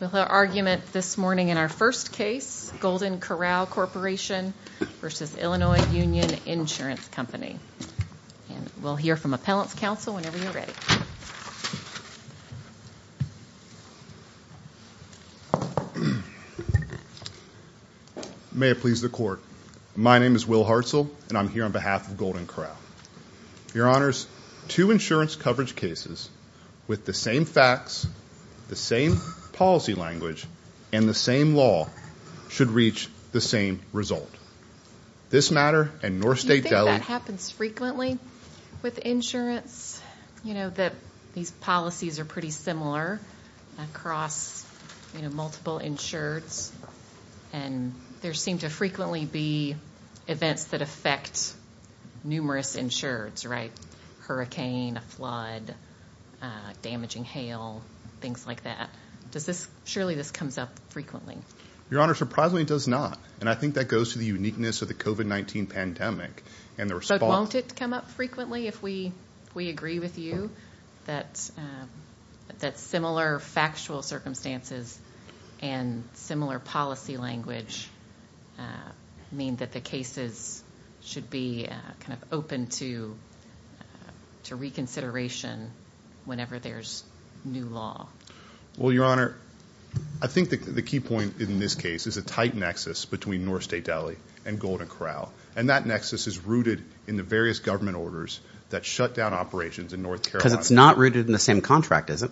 We'll hear argument this morning in our first case, Golden Corral Corporation v. Illinois Union Insurance Company. And we'll hear from Appellant's Counsel whenever you're ready. May it please the Court. My name is Will Hartzell, and I'm here on behalf of Golden Corral. Your Honors, two insurance coverage cases with the same facts, the same policy language, and the same law should reach the same result. This matter and North State Deli- Do you think that happens frequently with insurance? You know, that these policies are pretty similar across, you know, multiple insureds. And there seem to frequently be events that affect numerous insureds, right? Hurricane, a flood, damaging hail, things like that. Does this, surely this comes up frequently? Your Honor, surprisingly it does not. And I think that goes to the uniqueness of the COVID-19 pandemic and the response- Does the policy language mean that the cases should be kind of open to reconsideration whenever there's new law? Well, Your Honor, I think the key point in this case is a tight nexus between North State Deli and Golden Corral. And that nexus is rooted in the various government orders that shut down operations in North Carolina. Because it's not rooted in the same contract, is it?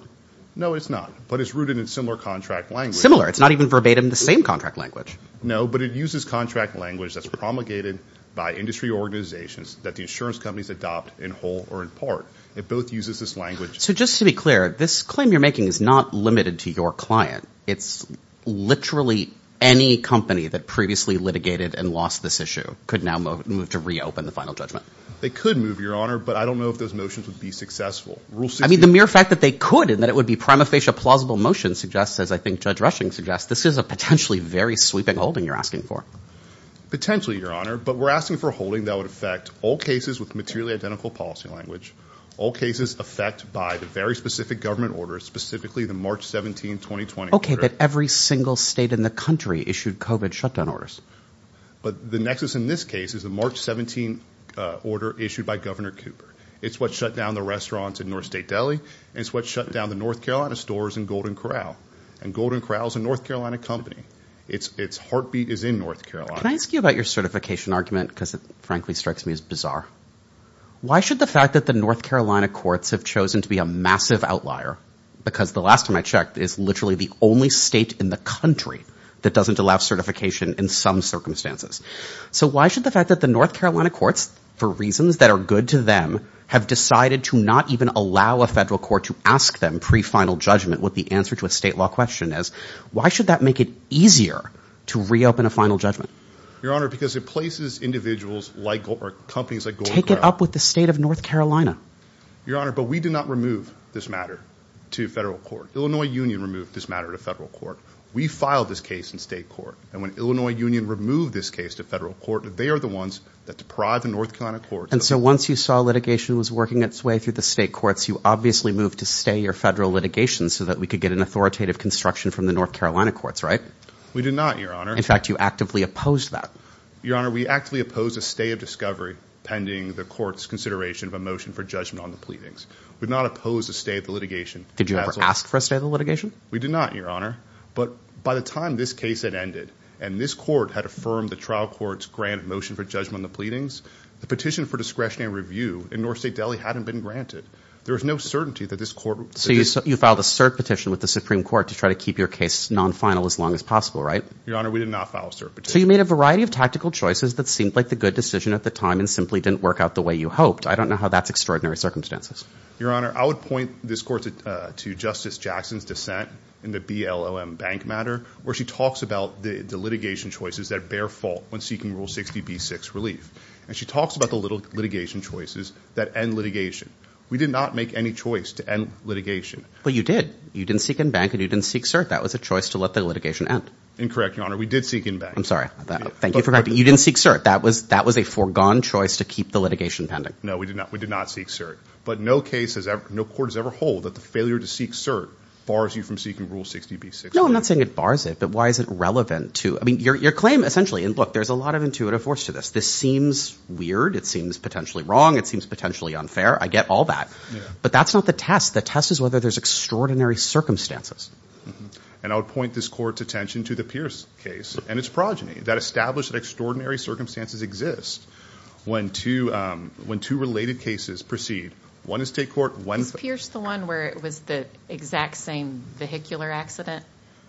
No, it's not. But it's rooted in similar contract language. It's similar. It's not even verbatim the same contract language. No, but it uses contract language that's promulgated by industry organizations that the insurance companies adopt in whole or in part. It both uses this language- So just to be clear, this claim you're making is not limited to your client. It's literally any company that previously litigated and lost this issue could now move to reopen the final judgment. They could move, Your Honor, but I don't know if those motions would be successful. I mean, the mere fact that they could and that it would be prima facie a plausible motion suggests, as I think Judge Rushing suggests, this is a potentially very sweeping holding you're asking for. Potentially, Your Honor, but we're asking for a holding that would affect all cases with materially identical policy language, all cases effect by the very specific government orders, specifically the March 17, 2020- Okay, but every single state in the country issued COVID shutdown orders. But the nexus in this case is the March 17 order issued by Governor Cooper. It's what shut down the restaurants in North State Deli. It's what shut down the North Carolina stores in Golden Corral. And Golden Corral is a North Carolina company. Its heartbeat is in North Carolina. Can I ask you about your certification argument? Because it frankly strikes me as bizarre. Why should the fact that the North Carolina courts have chosen to be a massive outlier, because the last time I checked, it's literally the only state in the country that doesn't allow certification in some circumstances. So why should the fact that the North Carolina courts, for reasons that are good to them, have decided to not even allow a federal court to ask them pre-final judgment what the answer to a state law question is, why should that make it easier to reopen a final judgment? Your Honor, because it places individuals like, or companies like Golden Corral- Take it up with the state of North Carolina. Your Honor, but we do not remove this matter to federal court. Illinois Union removed this matter to federal court. We filed this case in state court. And when Illinois Union removed this case to federal court, they are the ones that deprived the North Carolina courts- And so once you saw litigation was working its way through the state courts, you obviously moved to stay your federal litigation so that we could get an authoritative construction from the North Carolina courts, right? We did not, Your Honor. In fact, you actively opposed that. Your Honor, we actively opposed a stay of discovery pending the court's consideration of a motion for judgment on the pleadings. We did not oppose a stay of the litigation. Did you ever ask for a stay of the litigation? We did not, Your Honor. But by the time this case had ended and this court had affirmed the trial court's grant motion for judgment on the pleadings, the petition for discretionary review in North State Delhi hadn't been granted. There was no certainty that this court- So you filed a cert petition with the Supreme Court to try to keep your case non-final as long as possible, right? Your Honor, we did not file a cert petition. So you made a variety of tactical choices that seemed like the good decision at the time and simply didn't work out the way you hoped. I don't know how that's extraordinary circumstances. Your Honor, I would point this court to Justice Jackson's dissent in the BLOM bank matter, where she talks about the litigation choices that bear fault when seeking Rule 60b-6 relief. And she talks about the litigation choices that end litigation. We did not make any choice to end litigation. But you did. You didn't seek in bank and you didn't seek cert. That was a choice to let the litigation end. Incorrect, Your Honor. We did seek in bank. I'm sorry. Thank you for correcting me. You didn't seek cert. That was a foregone choice to keep the litigation pending. No, we did not. We did not seek cert. But no case has ever – no court has ever held that the failure to seek cert bars you from seeking Rule 60b-6 relief. No, I'm not saying it bars it. But why is it relevant to – I mean, your claim essentially – and look, there's a lot of intuitive force to this. This seems weird. It seems potentially wrong. It seems potentially unfair. I get all that. But that's not the test. The test is whether there's extraordinary circumstances. And I would point this court's attention to the Pierce case and its progeny that established that extraordinary circumstances exist when two related cases proceed, one in state court, one – Is Pierce the one where it was the exact same vehicular accident?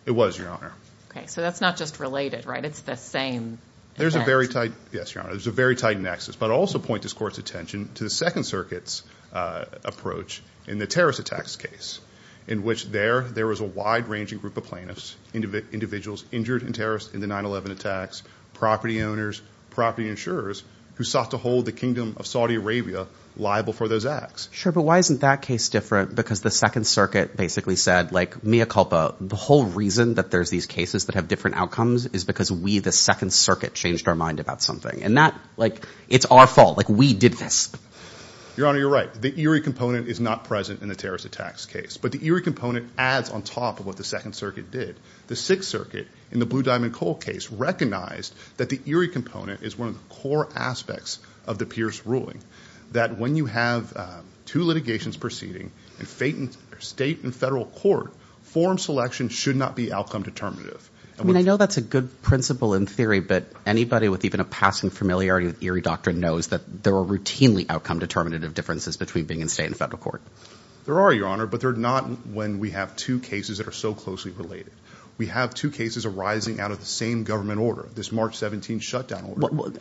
It was, Your Honor. Okay. So that's not just related, right? It's the same event. There's a very tight – yes, Your Honor. There's a very tight nexus. But I'll also point this court's attention to the Second Circuit's approach in the terrorist attacks case in which there was a wide-ranging group of plaintiffs, individuals injured and terrorists in the 9-11 attacks, property owners, property insurers who sought to hold the Kingdom of Saudi Arabia liable for those acts. But why isn't that case different? Because the Second Circuit basically said, like, mea culpa. The whole reason that there's these cases that have different outcomes is because we, the Second Circuit, changed our mind about something. And that – like, it's our fault. Like, we did this. Your Honor, you're right. The eerie component is not present in the terrorist attacks case. But the eerie component adds on top of what the Second Circuit did. The Sixth Circuit in the Blue Diamond Coal case recognized that the eerie component is one of the core aspects of the Pierce ruling, that when you have two litigations proceeding in state and federal court, form selection should not be outcome determinative. I mean, I know that's a good principle in theory, but anybody with even a passing familiarity with eerie doctrine knows that there are routinely outcome determinative differences between being in state and federal court. There are, Your Honor, but they're not when we have two cases that are so closely related. We have two cases arising out of the same government order, this March 17 shutdown order.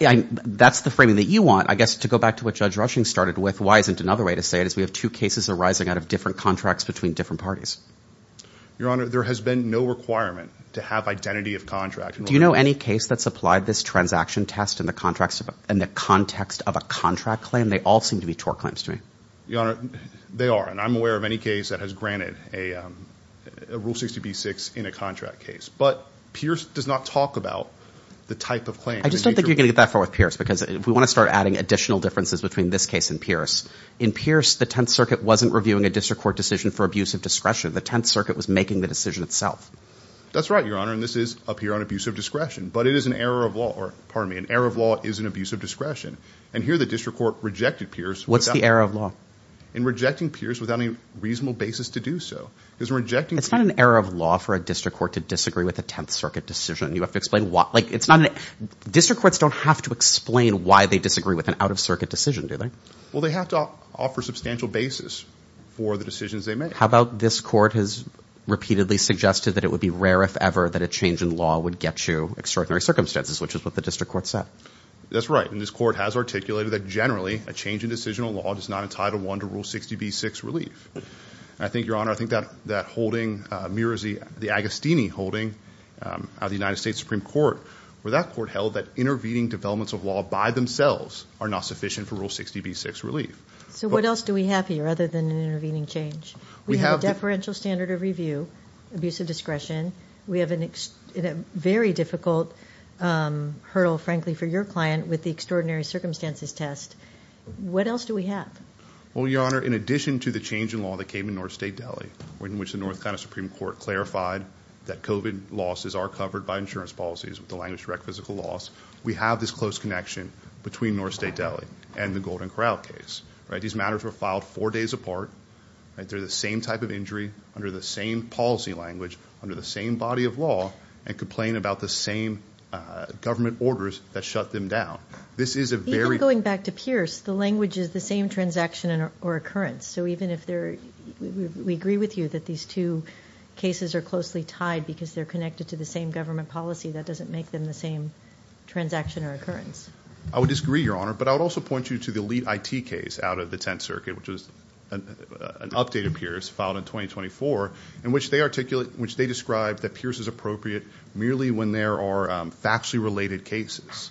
That's the framing that you want. I guess to go back to what Judge Rushing started with, why isn't another way to say it is we have two cases arising out of different contracts between different parties? Your Honor, there has been no requirement to have identity of contract. Do you know any case that supplied this transaction test in the context of a contract claim? They all seem to be tort claims to me. Your Honor, they are. And I'm aware of any case that has granted a Rule 60B-6 in a contract case. But Pierce does not talk about the type of claim. I just don't think you're going to get that far with Pierce, because we want to start adding additional differences between this case and Pierce. In Pierce, the Tenth Circuit wasn't reviewing a district court decision for abuse of discretion. The Tenth Circuit was making the decision itself. That's right, Your Honor, and this is up here on abuse of discretion. But it is an error of law, or pardon me, an error of law is an abuse of discretion. And here the district court rejected Pierce. What's the error of law? In rejecting Pierce without any reasonable basis to do so. It's not an error of law for a district court to disagree with a Tenth Circuit decision. You have to explain why. District courts don't have to explain why they disagree with an out-of-circuit decision, do they? Well, they have to offer substantial basis for the decisions they make. How about this court has repeatedly suggested that it would be rare if ever that a change in law would get you extraordinary circumstances, which is what the district court said. That's right, and this court has articulated that generally, a change in decisional law does not entitle one to Rule 60b-6 relief. I think, Your Honor, I think that holding mirrors the Agostini holding of the United States Supreme Court, where that court held that intervening developments of law by themselves are not sufficient for Rule 60b-6 relief. So what else do we have here other than an intervening change? We have a deferential standard of review, abuse of discretion. We have a very difficult hurdle, frankly, for your client with the extraordinary circumstances test. What else do we have? Well, Your Honor, in addition to the change in law that came in North State Delhi, in which the North Carolina Supreme Court clarified that COVID losses are covered by insurance policies, with the language direct physical loss, we have this close connection between North State Delhi and the Golden Corral case. These matters were filed four days apart. They're the same type of injury under the same policy language, under the same body of law, and complain about the same government orders that shut them down. This is a very- Even going back to Pierce, the language is the same transaction or occurrence. So even if they're-we agree with you that these two cases are closely tied because they're connected to the same government policy. That doesn't make them the same transaction or occurrence. I would disagree, Your Honor, but I would also point you to the elite IT case out of the Tenth Circuit, which is an update of Pierce filed in 2024, in which they articulate- in which they describe that Pierce is appropriate merely when there are factually related cases.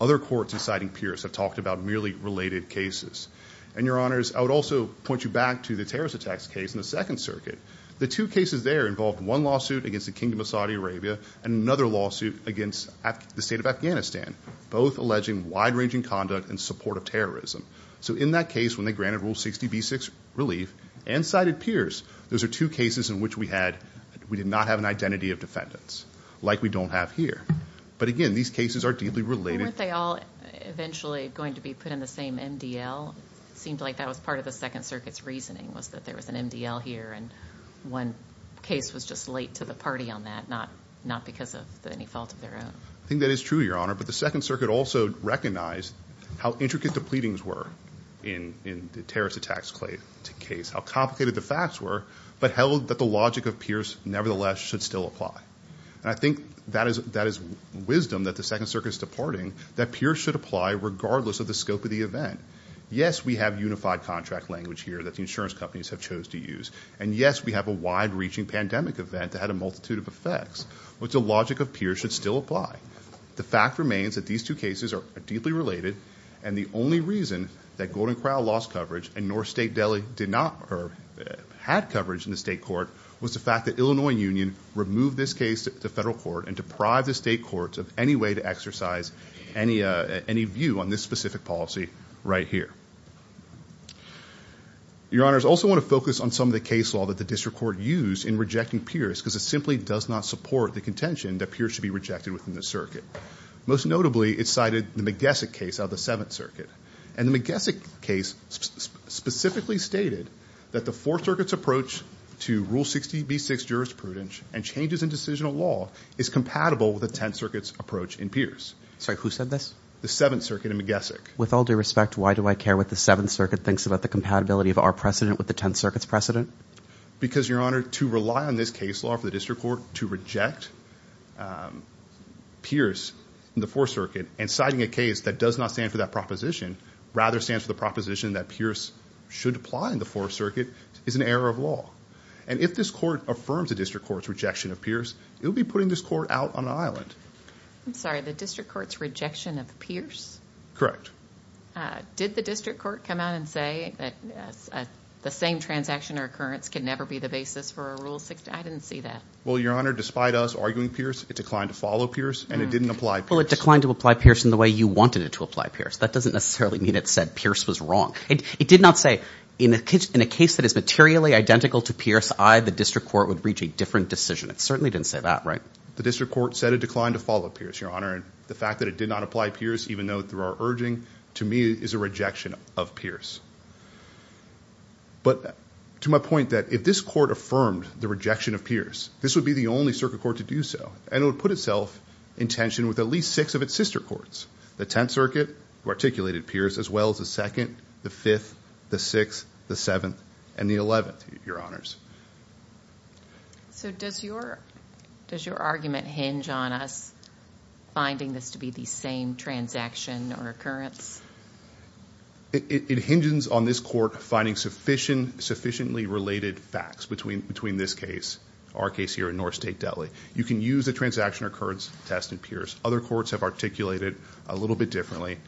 Other courts inciting Pierce have talked about merely related cases. And, Your Honors, I would also point you back to the terrorist attacks case in the Second Circuit. The two cases there involved one lawsuit against the Kingdom of Saudi Arabia and another lawsuit against the state of Afghanistan, both alleging wide-ranging conduct in support of terrorism. So in that case, when they granted Rule 60B6 relief and cited Pierce, those are two cases in which we had-we did not have an identity of defendants, like we don't have here. But, again, these cases are deeply related. Weren't they all eventually going to be put in the same MDL? It seemed like that was part of the Second Circuit's reasoning, was that there was an MDL here and one case was just late to the party on that, not because of any fault of their own. I think that is true, Your Honor, but the Second Circuit also recognized how intricate the pleadings were in the terrorist attacks case, how complicated the facts were, but held that the logic of Pierce nevertheless should still apply. And I think that is wisdom that the Second Circuit is departing, that Pierce should apply regardless of the scope of the event. Yes, we have unified contract language here that the insurance companies have chose to use. And, yes, we have a wide-reaching pandemic event that had a multitude of effects, which the logic of Pierce should still apply. The fact remains that these two cases are deeply related, and the only reason that Golden Crown lost coverage and North State Delhi had coverage in the state court was the fact that Illinois Union removed this case to federal court and deprived the state courts of any way to exercise any view on this specific policy right here. Your Honors, I also want to focus on some of the case law that the district court used in rejecting Pierce because it simply does not support the contention that Pierce should be rejected within the circuit. Most notably, it cited the Magessic case out of the Seventh Circuit. And the Magessic case specifically stated that the Fourth Circuit's approach to Rule 60b-6 jurisprudence and changes in decisional law is compatible with the Tenth Circuit's approach in Pierce. Sorry, who said this? The Seventh Circuit in Magessic. With all due respect, why do I care what the Seventh Circuit thinks about the compatibility of our precedent with the Tenth Circuit's precedent? Because, Your Honor, to rely on this case law for the district court to reject Pierce in the Fourth Circuit and citing a case that does not stand for that proposition, rather stands for the proposition that Pierce should apply in the Fourth Circuit is an error of law. And if this court affirms the district court's rejection of Pierce, it will be putting this court out on an island. I'm sorry, the district court's rejection of Pierce? Correct. Did the district court come out and say that the same transaction or occurrence can never be the basis for a Rule 60? I didn't see that. Well, Your Honor, despite us arguing Pierce, it declined to follow Pierce and it didn't apply Pierce. Well, it declined to apply Pierce in the way you wanted it to apply Pierce. That doesn't necessarily mean it said Pierce was wrong. It did not say, in a case that is materially identical to Pierce, I, the district court, would reach a different decision. It certainly didn't say that, right? The district court said it declined to follow Pierce, Your Honor, and the fact that it did not apply Pierce, even though through our urging, to me is a rejection of Pierce. But to my point that if this court affirmed the rejection of Pierce, this would be the only circuit court to do so, and it would put itself in tension with at least six of its sister courts, the 10th Circuit, who articulated Pierce, as well as the 2nd, the 5th, the 6th, the 7th, and the 11th, Your Honors. So does your argument hinge on us finding this to be the same transaction or occurrence? It hinges on this court finding sufficiently related facts between this case, our case here in North State Delhi. You can use the transaction or occurrence test in Pierce. Other courts have articulated it a little bit differently,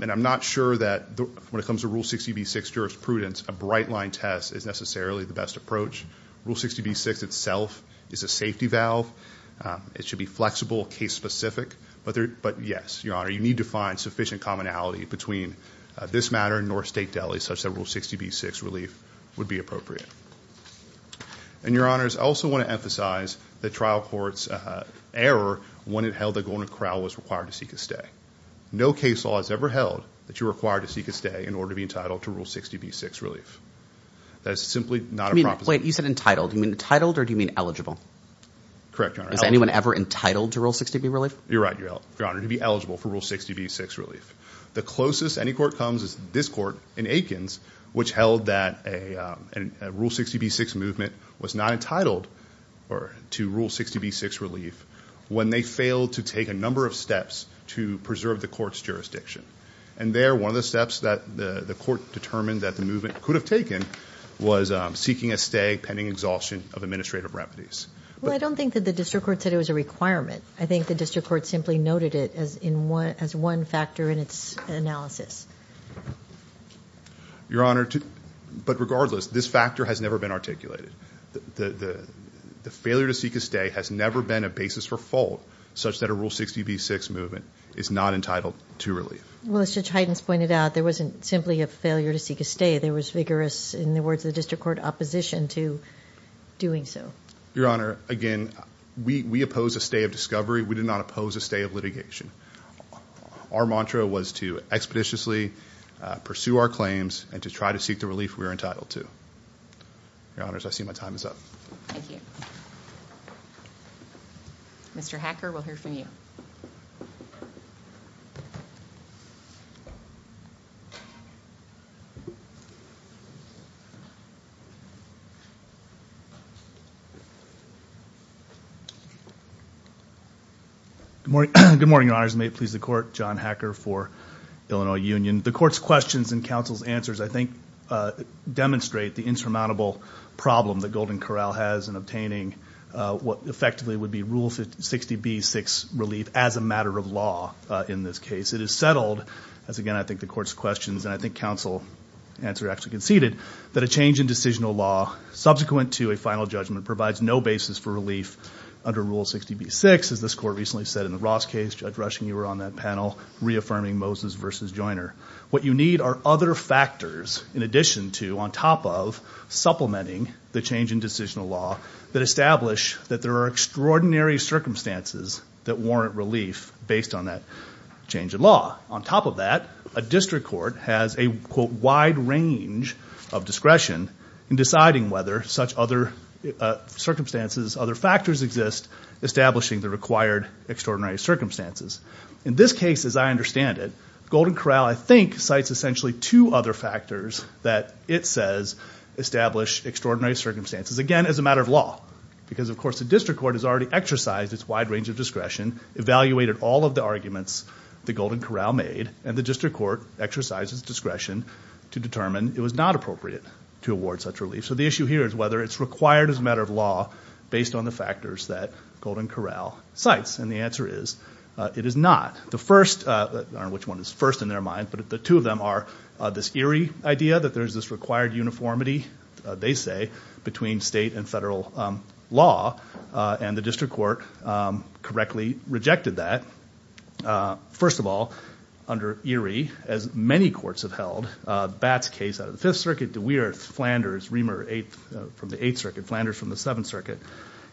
and I'm not sure that when it comes to Rule 60B-6 jurisprudence, a bright-line test is necessarily the best approach. Rule 60B-6 itself is a safety valve. It should be flexible, case-specific, but yes, Your Honor, you need to find sufficient commonality between this matter and North State Delhi such that Rule 60B-6 relief would be appropriate. And, Your Honors, I also want to emphasize the trial court's error when it held that Golden Corral was required to seek a stay. No case law has ever held that you're required to seek a stay in order to be entitled to Rule 60B-6 relief. That is simply not a proposition. Wait, you said entitled. You mean entitled or do you mean eligible? Correct, Your Honor. Is anyone ever entitled to Rule 60B relief? You're right, Your Honor. You're entitled in order to be eligible for Rule 60B-6 relief. The closest any court comes is this court in Aikens, which held that a Rule 60B-6 movement was not entitled to Rule 60B-6 relief when they failed to take a number of steps to preserve the court's jurisdiction. And there, one of the steps that the court determined that the movement could have taken was seeking a stay pending exhaustion of administrative remedies. Well, I don't think that the district court said it was a requirement. I think the district court simply noted it as one factor in its analysis. Your Honor, but regardless, this factor has never been articulated. The failure to seek a stay has never been a basis for fault such that a Rule 60B-6 movement is not entitled to relief. Well, as Judge Heidens pointed out, there wasn't simply a failure to seek a stay. There was vigorous, in the words of the district court, opposition to doing so. Your Honor, again, we opposed a stay of discovery. We did not oppose a stay of litigation. Our mantra was to expeditiously pursue our claims and to try to seek the relief we were entitled to. Your Honors, I see my time is up. Thank you. Mr. Hacker, we'll hear from you. Good morning, Your Honors. May it please the Court, John Hacker for Illinois Union. The Court's questions and counsel's answers, I think, demonstrate the insurmountable problem that Golden Corral has in obtaining what effectively would be Rule 60B-6 relief as a matter of law in this case. It is settled, as again I think the Court's questions and I think counsel's answer actually conceded, that a change in decisional law subsequent to a final judgment provides no basis for relief under Rule 60B-6. As this Court recently said in the Ross case, Judge Rushing, you were on that panel reaffirming Moses v. Joyner. What you need are other factors in addition to, on top of, supplementing the change in decisional law that establish that there are extraordinary circumstances that warrant relief based on that change in law. On top of that, a district court has a, quote, circumstances, other factors exist establishing the required extraordinary circumstances. In this case, as I understand it, Golden Corral, I think, cites essentially two other factors that it says establish extraordinary circumstances. Again, as a matter of law because, of course, the district court has already exercised its wide range of discretion, evaluated all of the arguments that Golden Corral made, and the district court exercised its discretion to determine it was not appropriate to award such relief. So the issue here is whether it's required as a matter of law based on the factors that Golden Corral cites. And the answer is it is not. The first, or which one is first in their mind, but the two of them are this Erie idea that there's this required uniformity, they say, between state and federal law, and the district court correctly rejected that. First of all, under Erie, as many courts have held, Bat's case out of the Fifth Circuit, De Weerth, Flanders, Reamer from the Eighth Circuit, Flanders from the Seventh Circuit,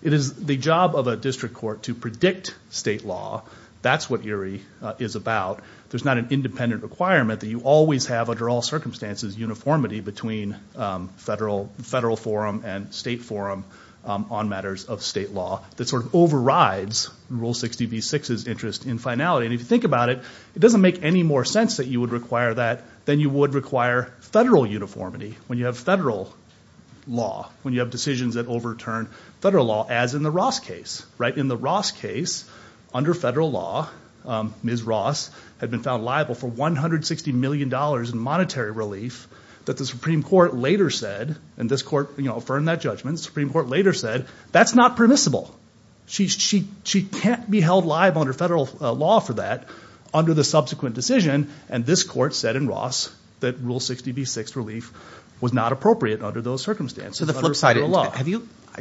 it is the job of a district court to predict state law. That's what Erie is about. There's not an independent requirement that you always have, under all circumstances, uniformity between federal forum and state forum on matters of state law. That sort of overrides Rule 60b-6's interest in finality. And if you think about it, it doesn't make any more sense that you would require that than you would require federal uniformity when you have federal law, when you have decisions that overturn federal law, as in the Ross case. In the Ross case, under federal law, Ms. Ross had been found liable for $160 million in monetary relief that the Supreme Court later said, and this court affirmed that judgment, the Supreme Court later said, that's not permissible. She can't be held liable under federal law for that under the subsequent decision, and this court said in Ross that Rule 60b-6 relief was not appropriate under those circumstances, under federal law.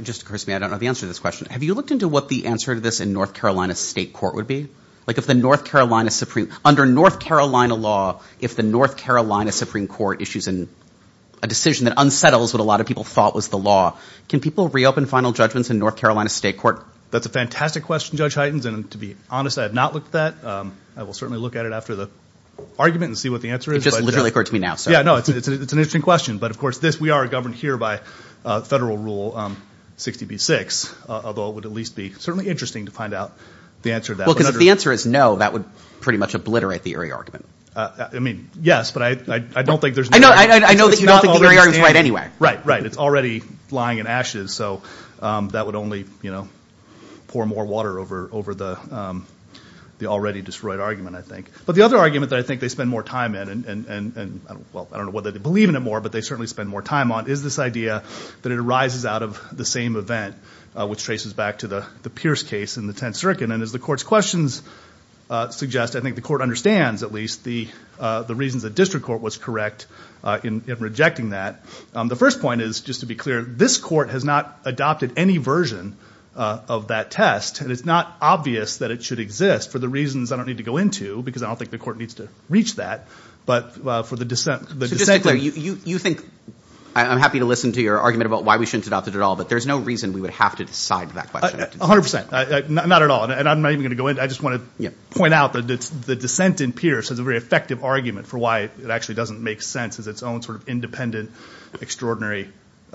Just curse me, I don't know the answer to this question. Have you looked into what the answer to this in North Carolina State Court would be? Like if the North Carolina Supreme, under North Carolina law, if the North Carolina Supreme Court issues a decision that unsettles what a lot of people thought was the law, can people reopen final judgments in North Carolina State Court? That's a fantastic question, Judge Heitens, and to be honest, I have not looked at that. I will certainly look at it after the argument and see what the answer is. It just literally occurred to me now, so. Yeah, no, it's an interesting question, but of course, we are governed here by federal Rule 60b-6, although it would at least be certainly interesting to find out the answer to that. Well, because if the answer is no, that would pretty much obliterate the Erie argument. I mean, yes, but I don't think there's no way. I know that you don't think the Erie argument is right anyway. Right, right, it's already lying in ashes, so that would only pour more water over the already destroyed argument, I think. But the other argument that I think they spend more time in, and, well, I don't know whether they believe in it more, but they certainly spend more time on, is this idea that it arises out of the same event, which traces back to the Pierce case in the Tenth Circuit. And as the Court's questions suggest, I think the Court understands, at least, the reasons the district court was correct in rejecting that. The first point is, just to be clear, this Court has not adopted any version of that test, and it's not obvious that it should exist for the reasons I don't need to go into, because I don't think the Court needs to reach that, but for the dissent. So just to be clear, you think – I'm happy to listen to your argument about why we shouldn't adopt it at all, but there's no reason we would have to decide that question. A hundred percent. Not at all. And I'm not even going to go into it. I just want to point out that the dissent in Pierce is a very effective argument for why it actually doesn't make sense as its own sort of independent, extraordinary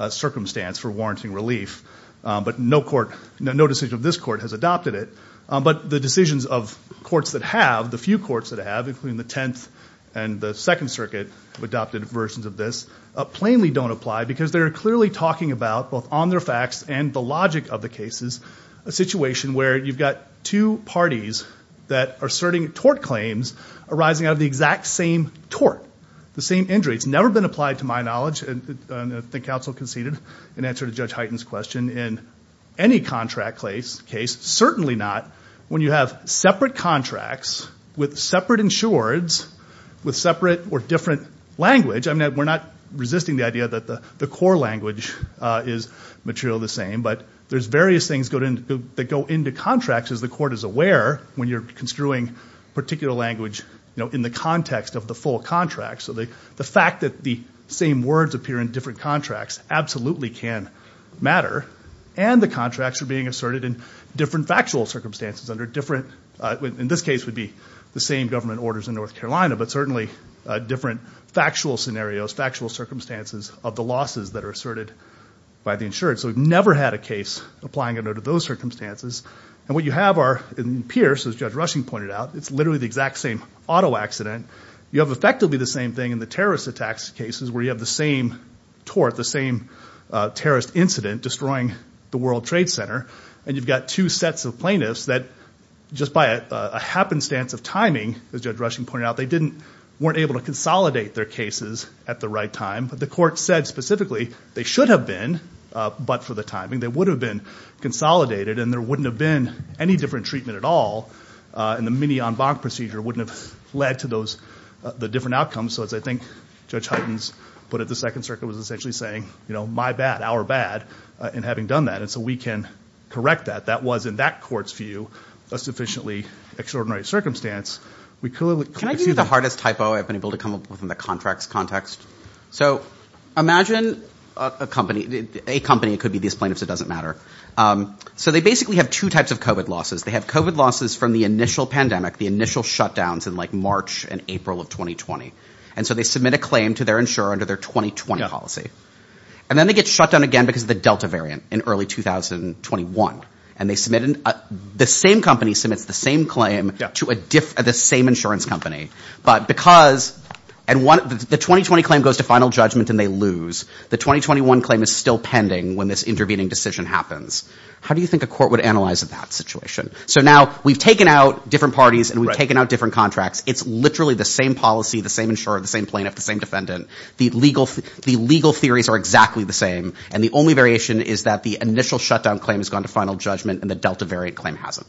circumstance for warranting relief. But no decision of this Court has adopted it. But the decisions of courts that have, the few courts that have, including the Tenth and the Second Circuit, have adopted versions of this, plainly don't apply, because they're clearly talking about, both on their facts and the logic of the cases, a situation where you've got two parties that are asserting tort claims arising out of the exact same tort, the same injury. It's never been applied, to my knowledge, and I think counsel conceded an answer to Judge Hyten's question, in any contract case, certainly not, when you have separate contracts with separate insureds with separate or different language. I mean, we're not resisting the idea that the core language is materially the same, but there's various things that go into contracts, as the Court is aware, when you're construing particular language in the context of the full contract. So the fact that the same words appear in different contracts absolutely can matter, and the contracts are being asserted in different factual circumstances, under different, in this case would be the same government orders in North Carolina, but certainly different factual scenarios, factual circumstances, of the losses that are asserted by the insured. So we've never had a case applying it under those circumstances. And what you have are, in Pierce, as Judge Rushing pointed out, it's literally the exact same auto accident. You have effectively the same thing in the terrorist attacks cases, where you have the same tort, the same terrorist incident, destroying the World Trade Center, and you've got two sets of plaintiffs that, just by a happenstance of timing, as Judge Rushing pointed out, they weren't able to consolidate their cases at the right time. The Court said specifically they should have been, but for the timing, they would have been consolidated, and there wouldn't have been any different treatment at all, and the mini-en banc procedure wouldn't have led to the different outcomes. So as I think Judge Hytens put it, the Second Circuit was essentially saying, my bad, our bad, in having done that. And so we can correct that. That was, in that Court's view, a sufficiently extraordinary circumstance. Can I give you the hardest typo I've been able to come up with in the contracts context? So imagine a company. It could be these plaintiffs, it doesn't matter. So they basically have two types of COVID losses. They have COVID losses from the initial pandemic, the initial shutdowns in March and April of 2020. And so they submit a claim to their insurer under their 2020 policy. And then they get shut down again because of the Delta variant in early 2021. And the same company submits the same claim to the same insurance company. But because the 2020 claim goes to final judgment and they lose, the 2021 claim is still pending when this intervening decision happens. How do you think a court would analyze that situation? So now we've taken out different parties and we've taken out different contracts. It's literally the same policy, the same insurer, the same plaintiff, the same defendant. The legal theories are exactly the same. And the only variation is that the initial shutdown claim has gone to final judgment and the Delta variant claim hasn't.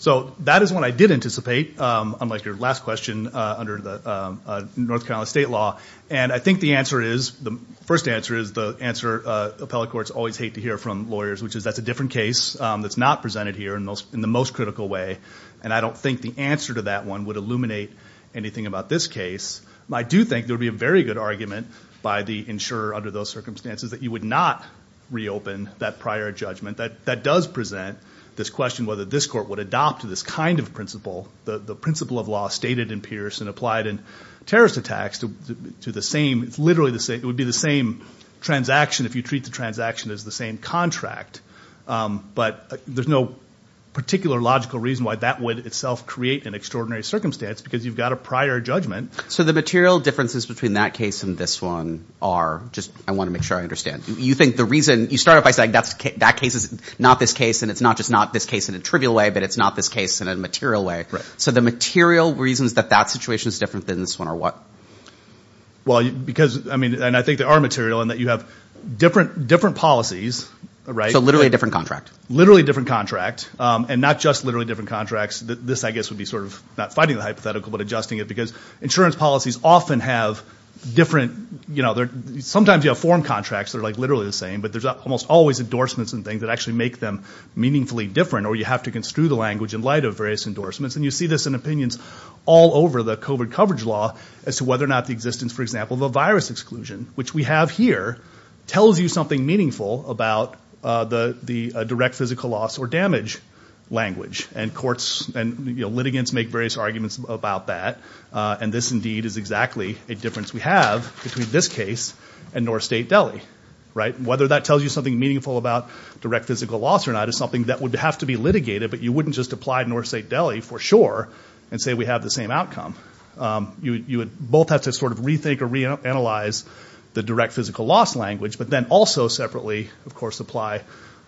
So that is what I did anticipate, unlike your last question, under the North Carolina state law. And I think the answer is, the first answer is the answer appellate courts always hate to hear from lawyers, which is that's a different case that's not presented here in the most critical way. And I don't think the answer to that one would illuminate anything about this case. I do think there would be a very good argument by the insurer under those circumstances that you would not reopen that prior judgment. That does present this question whether this court would adopt this kind of principle, the principle of law stated in Pierce and applied in terrorist attacks, to the same, literally the same, it would be the same transaction if you treat the transaction as the same contract. But there's no particular logical reason why that would itself create an extraordinary circumstance because you've got a prior judgment. So the material differences between that case and this one are, I want to make sure I understand, you think the reason, you start off by saying that case is not this case, and it's not just not this case in a trivial way, but it's not this case in a material way. So the material reasons that that situation is different than this one are what? Well, because, I mean, and I think they are material in that you have different policies, right? So literally a different contract. Literally a different contract, and not just literally different contracts. This, I guess, would be sort of not fighting the hypothetical, but adjusting it because insurance policies often have different, sometimes you have foreign contracts that are literally the same, but there's almost always endorsements and things that actually make them meaningfully different, or you have to construe the language in light of various endorsements. And you see this in opinions all over the COVID coverage law as to whether or not the existence, for example, of a virus exclusion, which we have here, tells you something meaningful about the direct physical loss or damage language. And courts and litigants make various arguments about that, and this indeed is exactly a difference we have between this case and North State Delhi, right? Whether that tells you something meaningful about direct physical loss or not is something that would have to be litigated, but you wouldn't just apply North State Delhi for sure and say we have the same outcome. You would both have to sort of rethink or reanalyze the direct physical loss language, but then also separately, of course, apply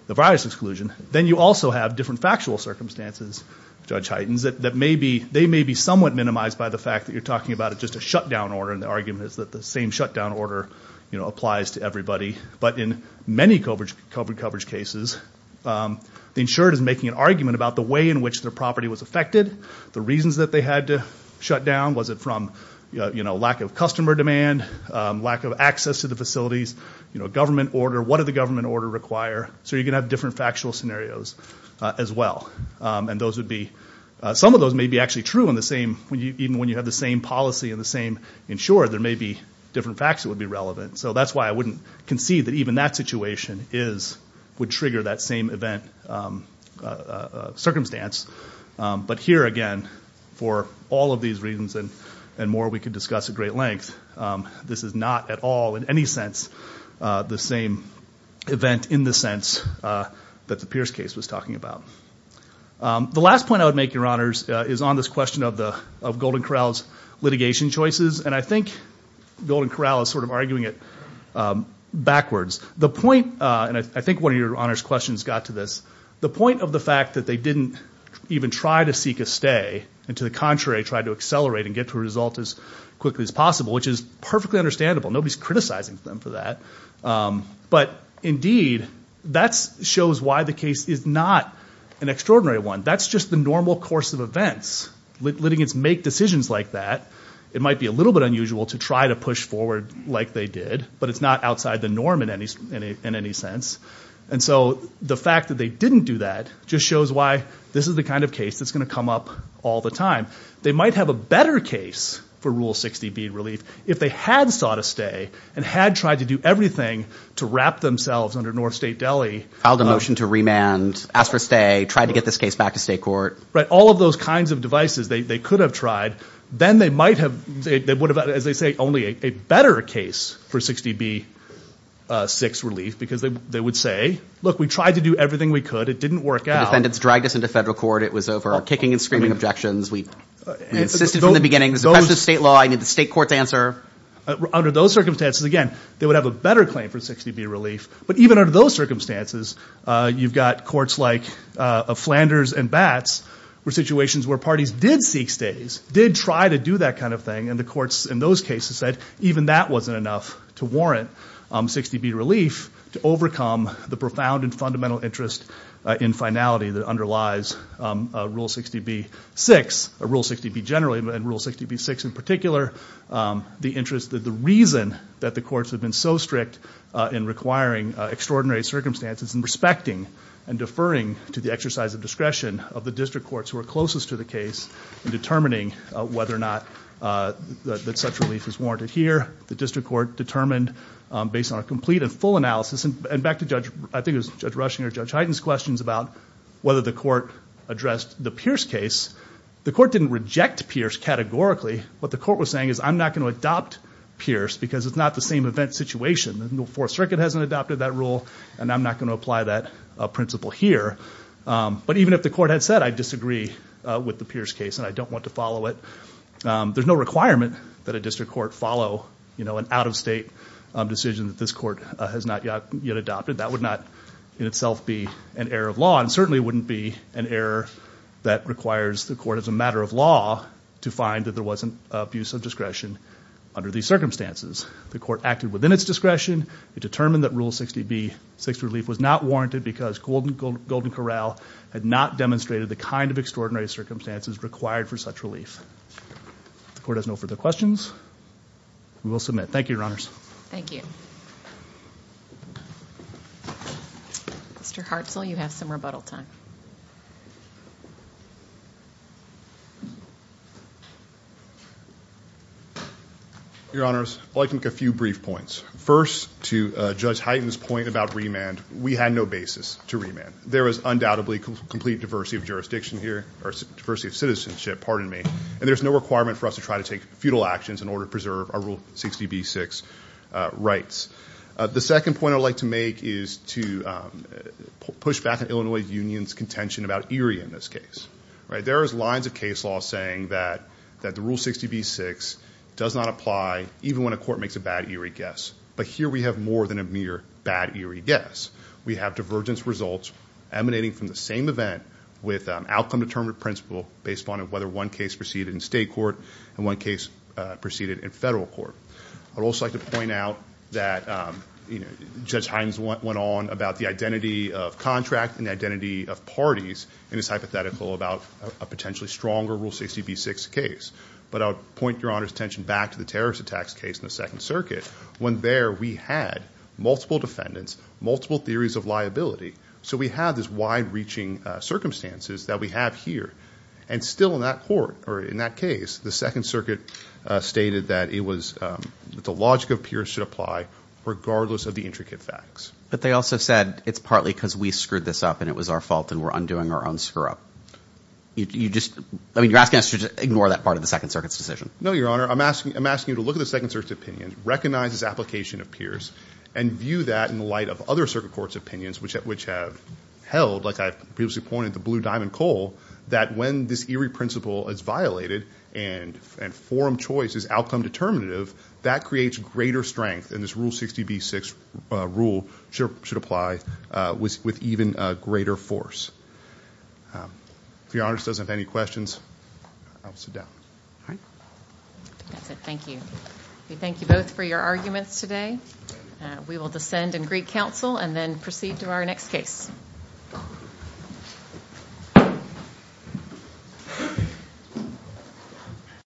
the virus exclusion. Then you also have different factual circumstances, Judge Hytens, that may be somewhat minimized by the fact that you're talking about just a shutdown order, and the argument is that the same shutdown order applies to everybody. But in many COVID coverage cases, the insured is making an argument about the way in which their property was affected, the reasons that they had to shut down. Was it from lack of customer demand, lack of access to the facilities, government order, what did the government order require? So you're going to have different factual scenarios as well. Some of those may be actually true even when you have the same policy and the same insurer, there may be different facts that would be relevant. So that's why I wouldn't concede that even that situation would trigger that same event circumstance. But here, again, for all of these reasons and more we could discuss at great length, this is not at all in any sense the same event in the sense that the Pierce case was talking about. The last point I would make, Your Honors, is on this question of Golden Corral's litigation choices, and I think Golden Corral is sort of arguing it backwards. The point, and I think one of Your Honors' questions got to this, the point of the fact that they didn't even try to seek a stay and, to the contrary, tried to accelerate and get to a result as quickly as possible, which is perfectly understandable. Nobody's criticizing them for that. But, indeed, that shows why the case is not an extraordinary one. That's just the normal course of events. Litigants make decisions like that. It might be a little bit unusual to try to push forward like they did, but it's not outside the norm in any sense. And so the fact that they didn't do that just shows why this is the kind of case that's going to come up all the time. They might have a better case for Rule 60 bead relief if they had sought a stay and had tried to do everything to wrap themselves under North State deli. Filed a motion to remand, asked for a stay, tried to get this case back to state court. Right, all of those kinds of devices they could have tried. Then they might have, as they say, only a better case for 60B6 relief because they would say, look, we tried to do everything we could. It didn't work out. The defendants dragged us into federal court. It was over kicking and screaming objections. We insisted from the beginning. It was a question of state law. I need the state court's answer. Under those circumstances, again, they would have a better claim for 60B relief. But even under those circumstances, you've got courts like Flanders and Batts where situations where parties did seek stays, did try to do that kind of thing, and the courts in those cases said even that wasn't enough to warrant 60B relief to overcome the profound and fundamental interest in finality that underlies Rule 60B6, Rule 60B generally, and Rule 60B6 in particular. The interest, the reason that the courts have been so strict in requiring extraordinary circumstances and respecting and deferring to the exercise of discretion of the district courts who are closest to the case in determining whether or not that such relief is warranted here. The district court determined based on a complete and full analysis, and back to Judge, I think it was Judge Rushing or Judge Heiden's questions about whether the court addressed the Pierce case. The court didn't reject Pierce categorically. What the court was saying is I'm not going to adopt Pierce because it's not the same event situation. The Fourth Circuit hasn't adopted that rule, and I'm not going to apply that principle here. But even if the court had said I disagree with the Pierce case and I don't want to follow it, there's no requirement that a district court follow an out-of-state decision that this court has not yet adopted. That would not in itself be an error of law, and certainly wouldn't be an error that requires the court as a matter of law to find that there wasn't abuse of discretion under these circumstances. The court acted within its discretion. It determined that Rule 60B, Sixth Relief, was not warranted because Golden Corral had not demonstrated the kind of extraordinary circumstances required for such relief. If the court has no further questions, we will submit. Thank you, Your Honors. Thank you. Mr. Hartzell, you have some rebuttal time. Your Honors, I'd like to make a few brief points. First, to Judge Hyten's point about remand, we had no basis to remand. There is undoubtedly complete diversity of jurisdiction here, or diversity of citizenship, pardon me, and there's no requirement for us to try to take futile actions in order to preserve our Rule 60B, Sixth rights. The second point I'd like to make is to push back on Illinois Union's contention about ERIE in this case. There is lines of case law saying that the Rule 60B, Sixth does not apply even when a court makes a bad ERIE guess, but here we have more than a mere bad ERIE guess. We have divergence results emanating from the same event with an outcome-determinant principle based upon whether one case proceeded in state court and one case proceeded in federal court. I'd also like to point out that Judge Hyten went on about the identity of contract and the identity of parties in his hypothetical about a potentially stronger Rule 60B, Sixth case. But I'll point Your Honors' attention back to the terrorist attacks case in the Second Circuit when there we had multiple defendants, multiple theories of liability, so we have these wide-reaching circumstances that we have here. And still in that court or in that case, the Second Circuit stated that the logic of Pierce should apply regardless of the intricate facts. But they also said it's partly because we screwed this up and it was our fault and we're undoing our own screw-up. You're asking us to ignore that part of the Second Circuit's decision. No, Your Honor. I'm asking you to look at the Second Circuit's opinion, recognize its application of Pierce, and view that in light of other circuit courts' opinions which have held, like I previously pointed, the blue diamond coal, that when this eerie principle is violated and forum choice is outcome determinative, that creates greater strength, and this Rule 60B, Sixth rule should apply with even greater force. If Your Honors doesn't have any questions, I'll sit down. That's it. Thank you. We thank you both for your arguments today. We will descend and greet counsel and then proceed to our next case.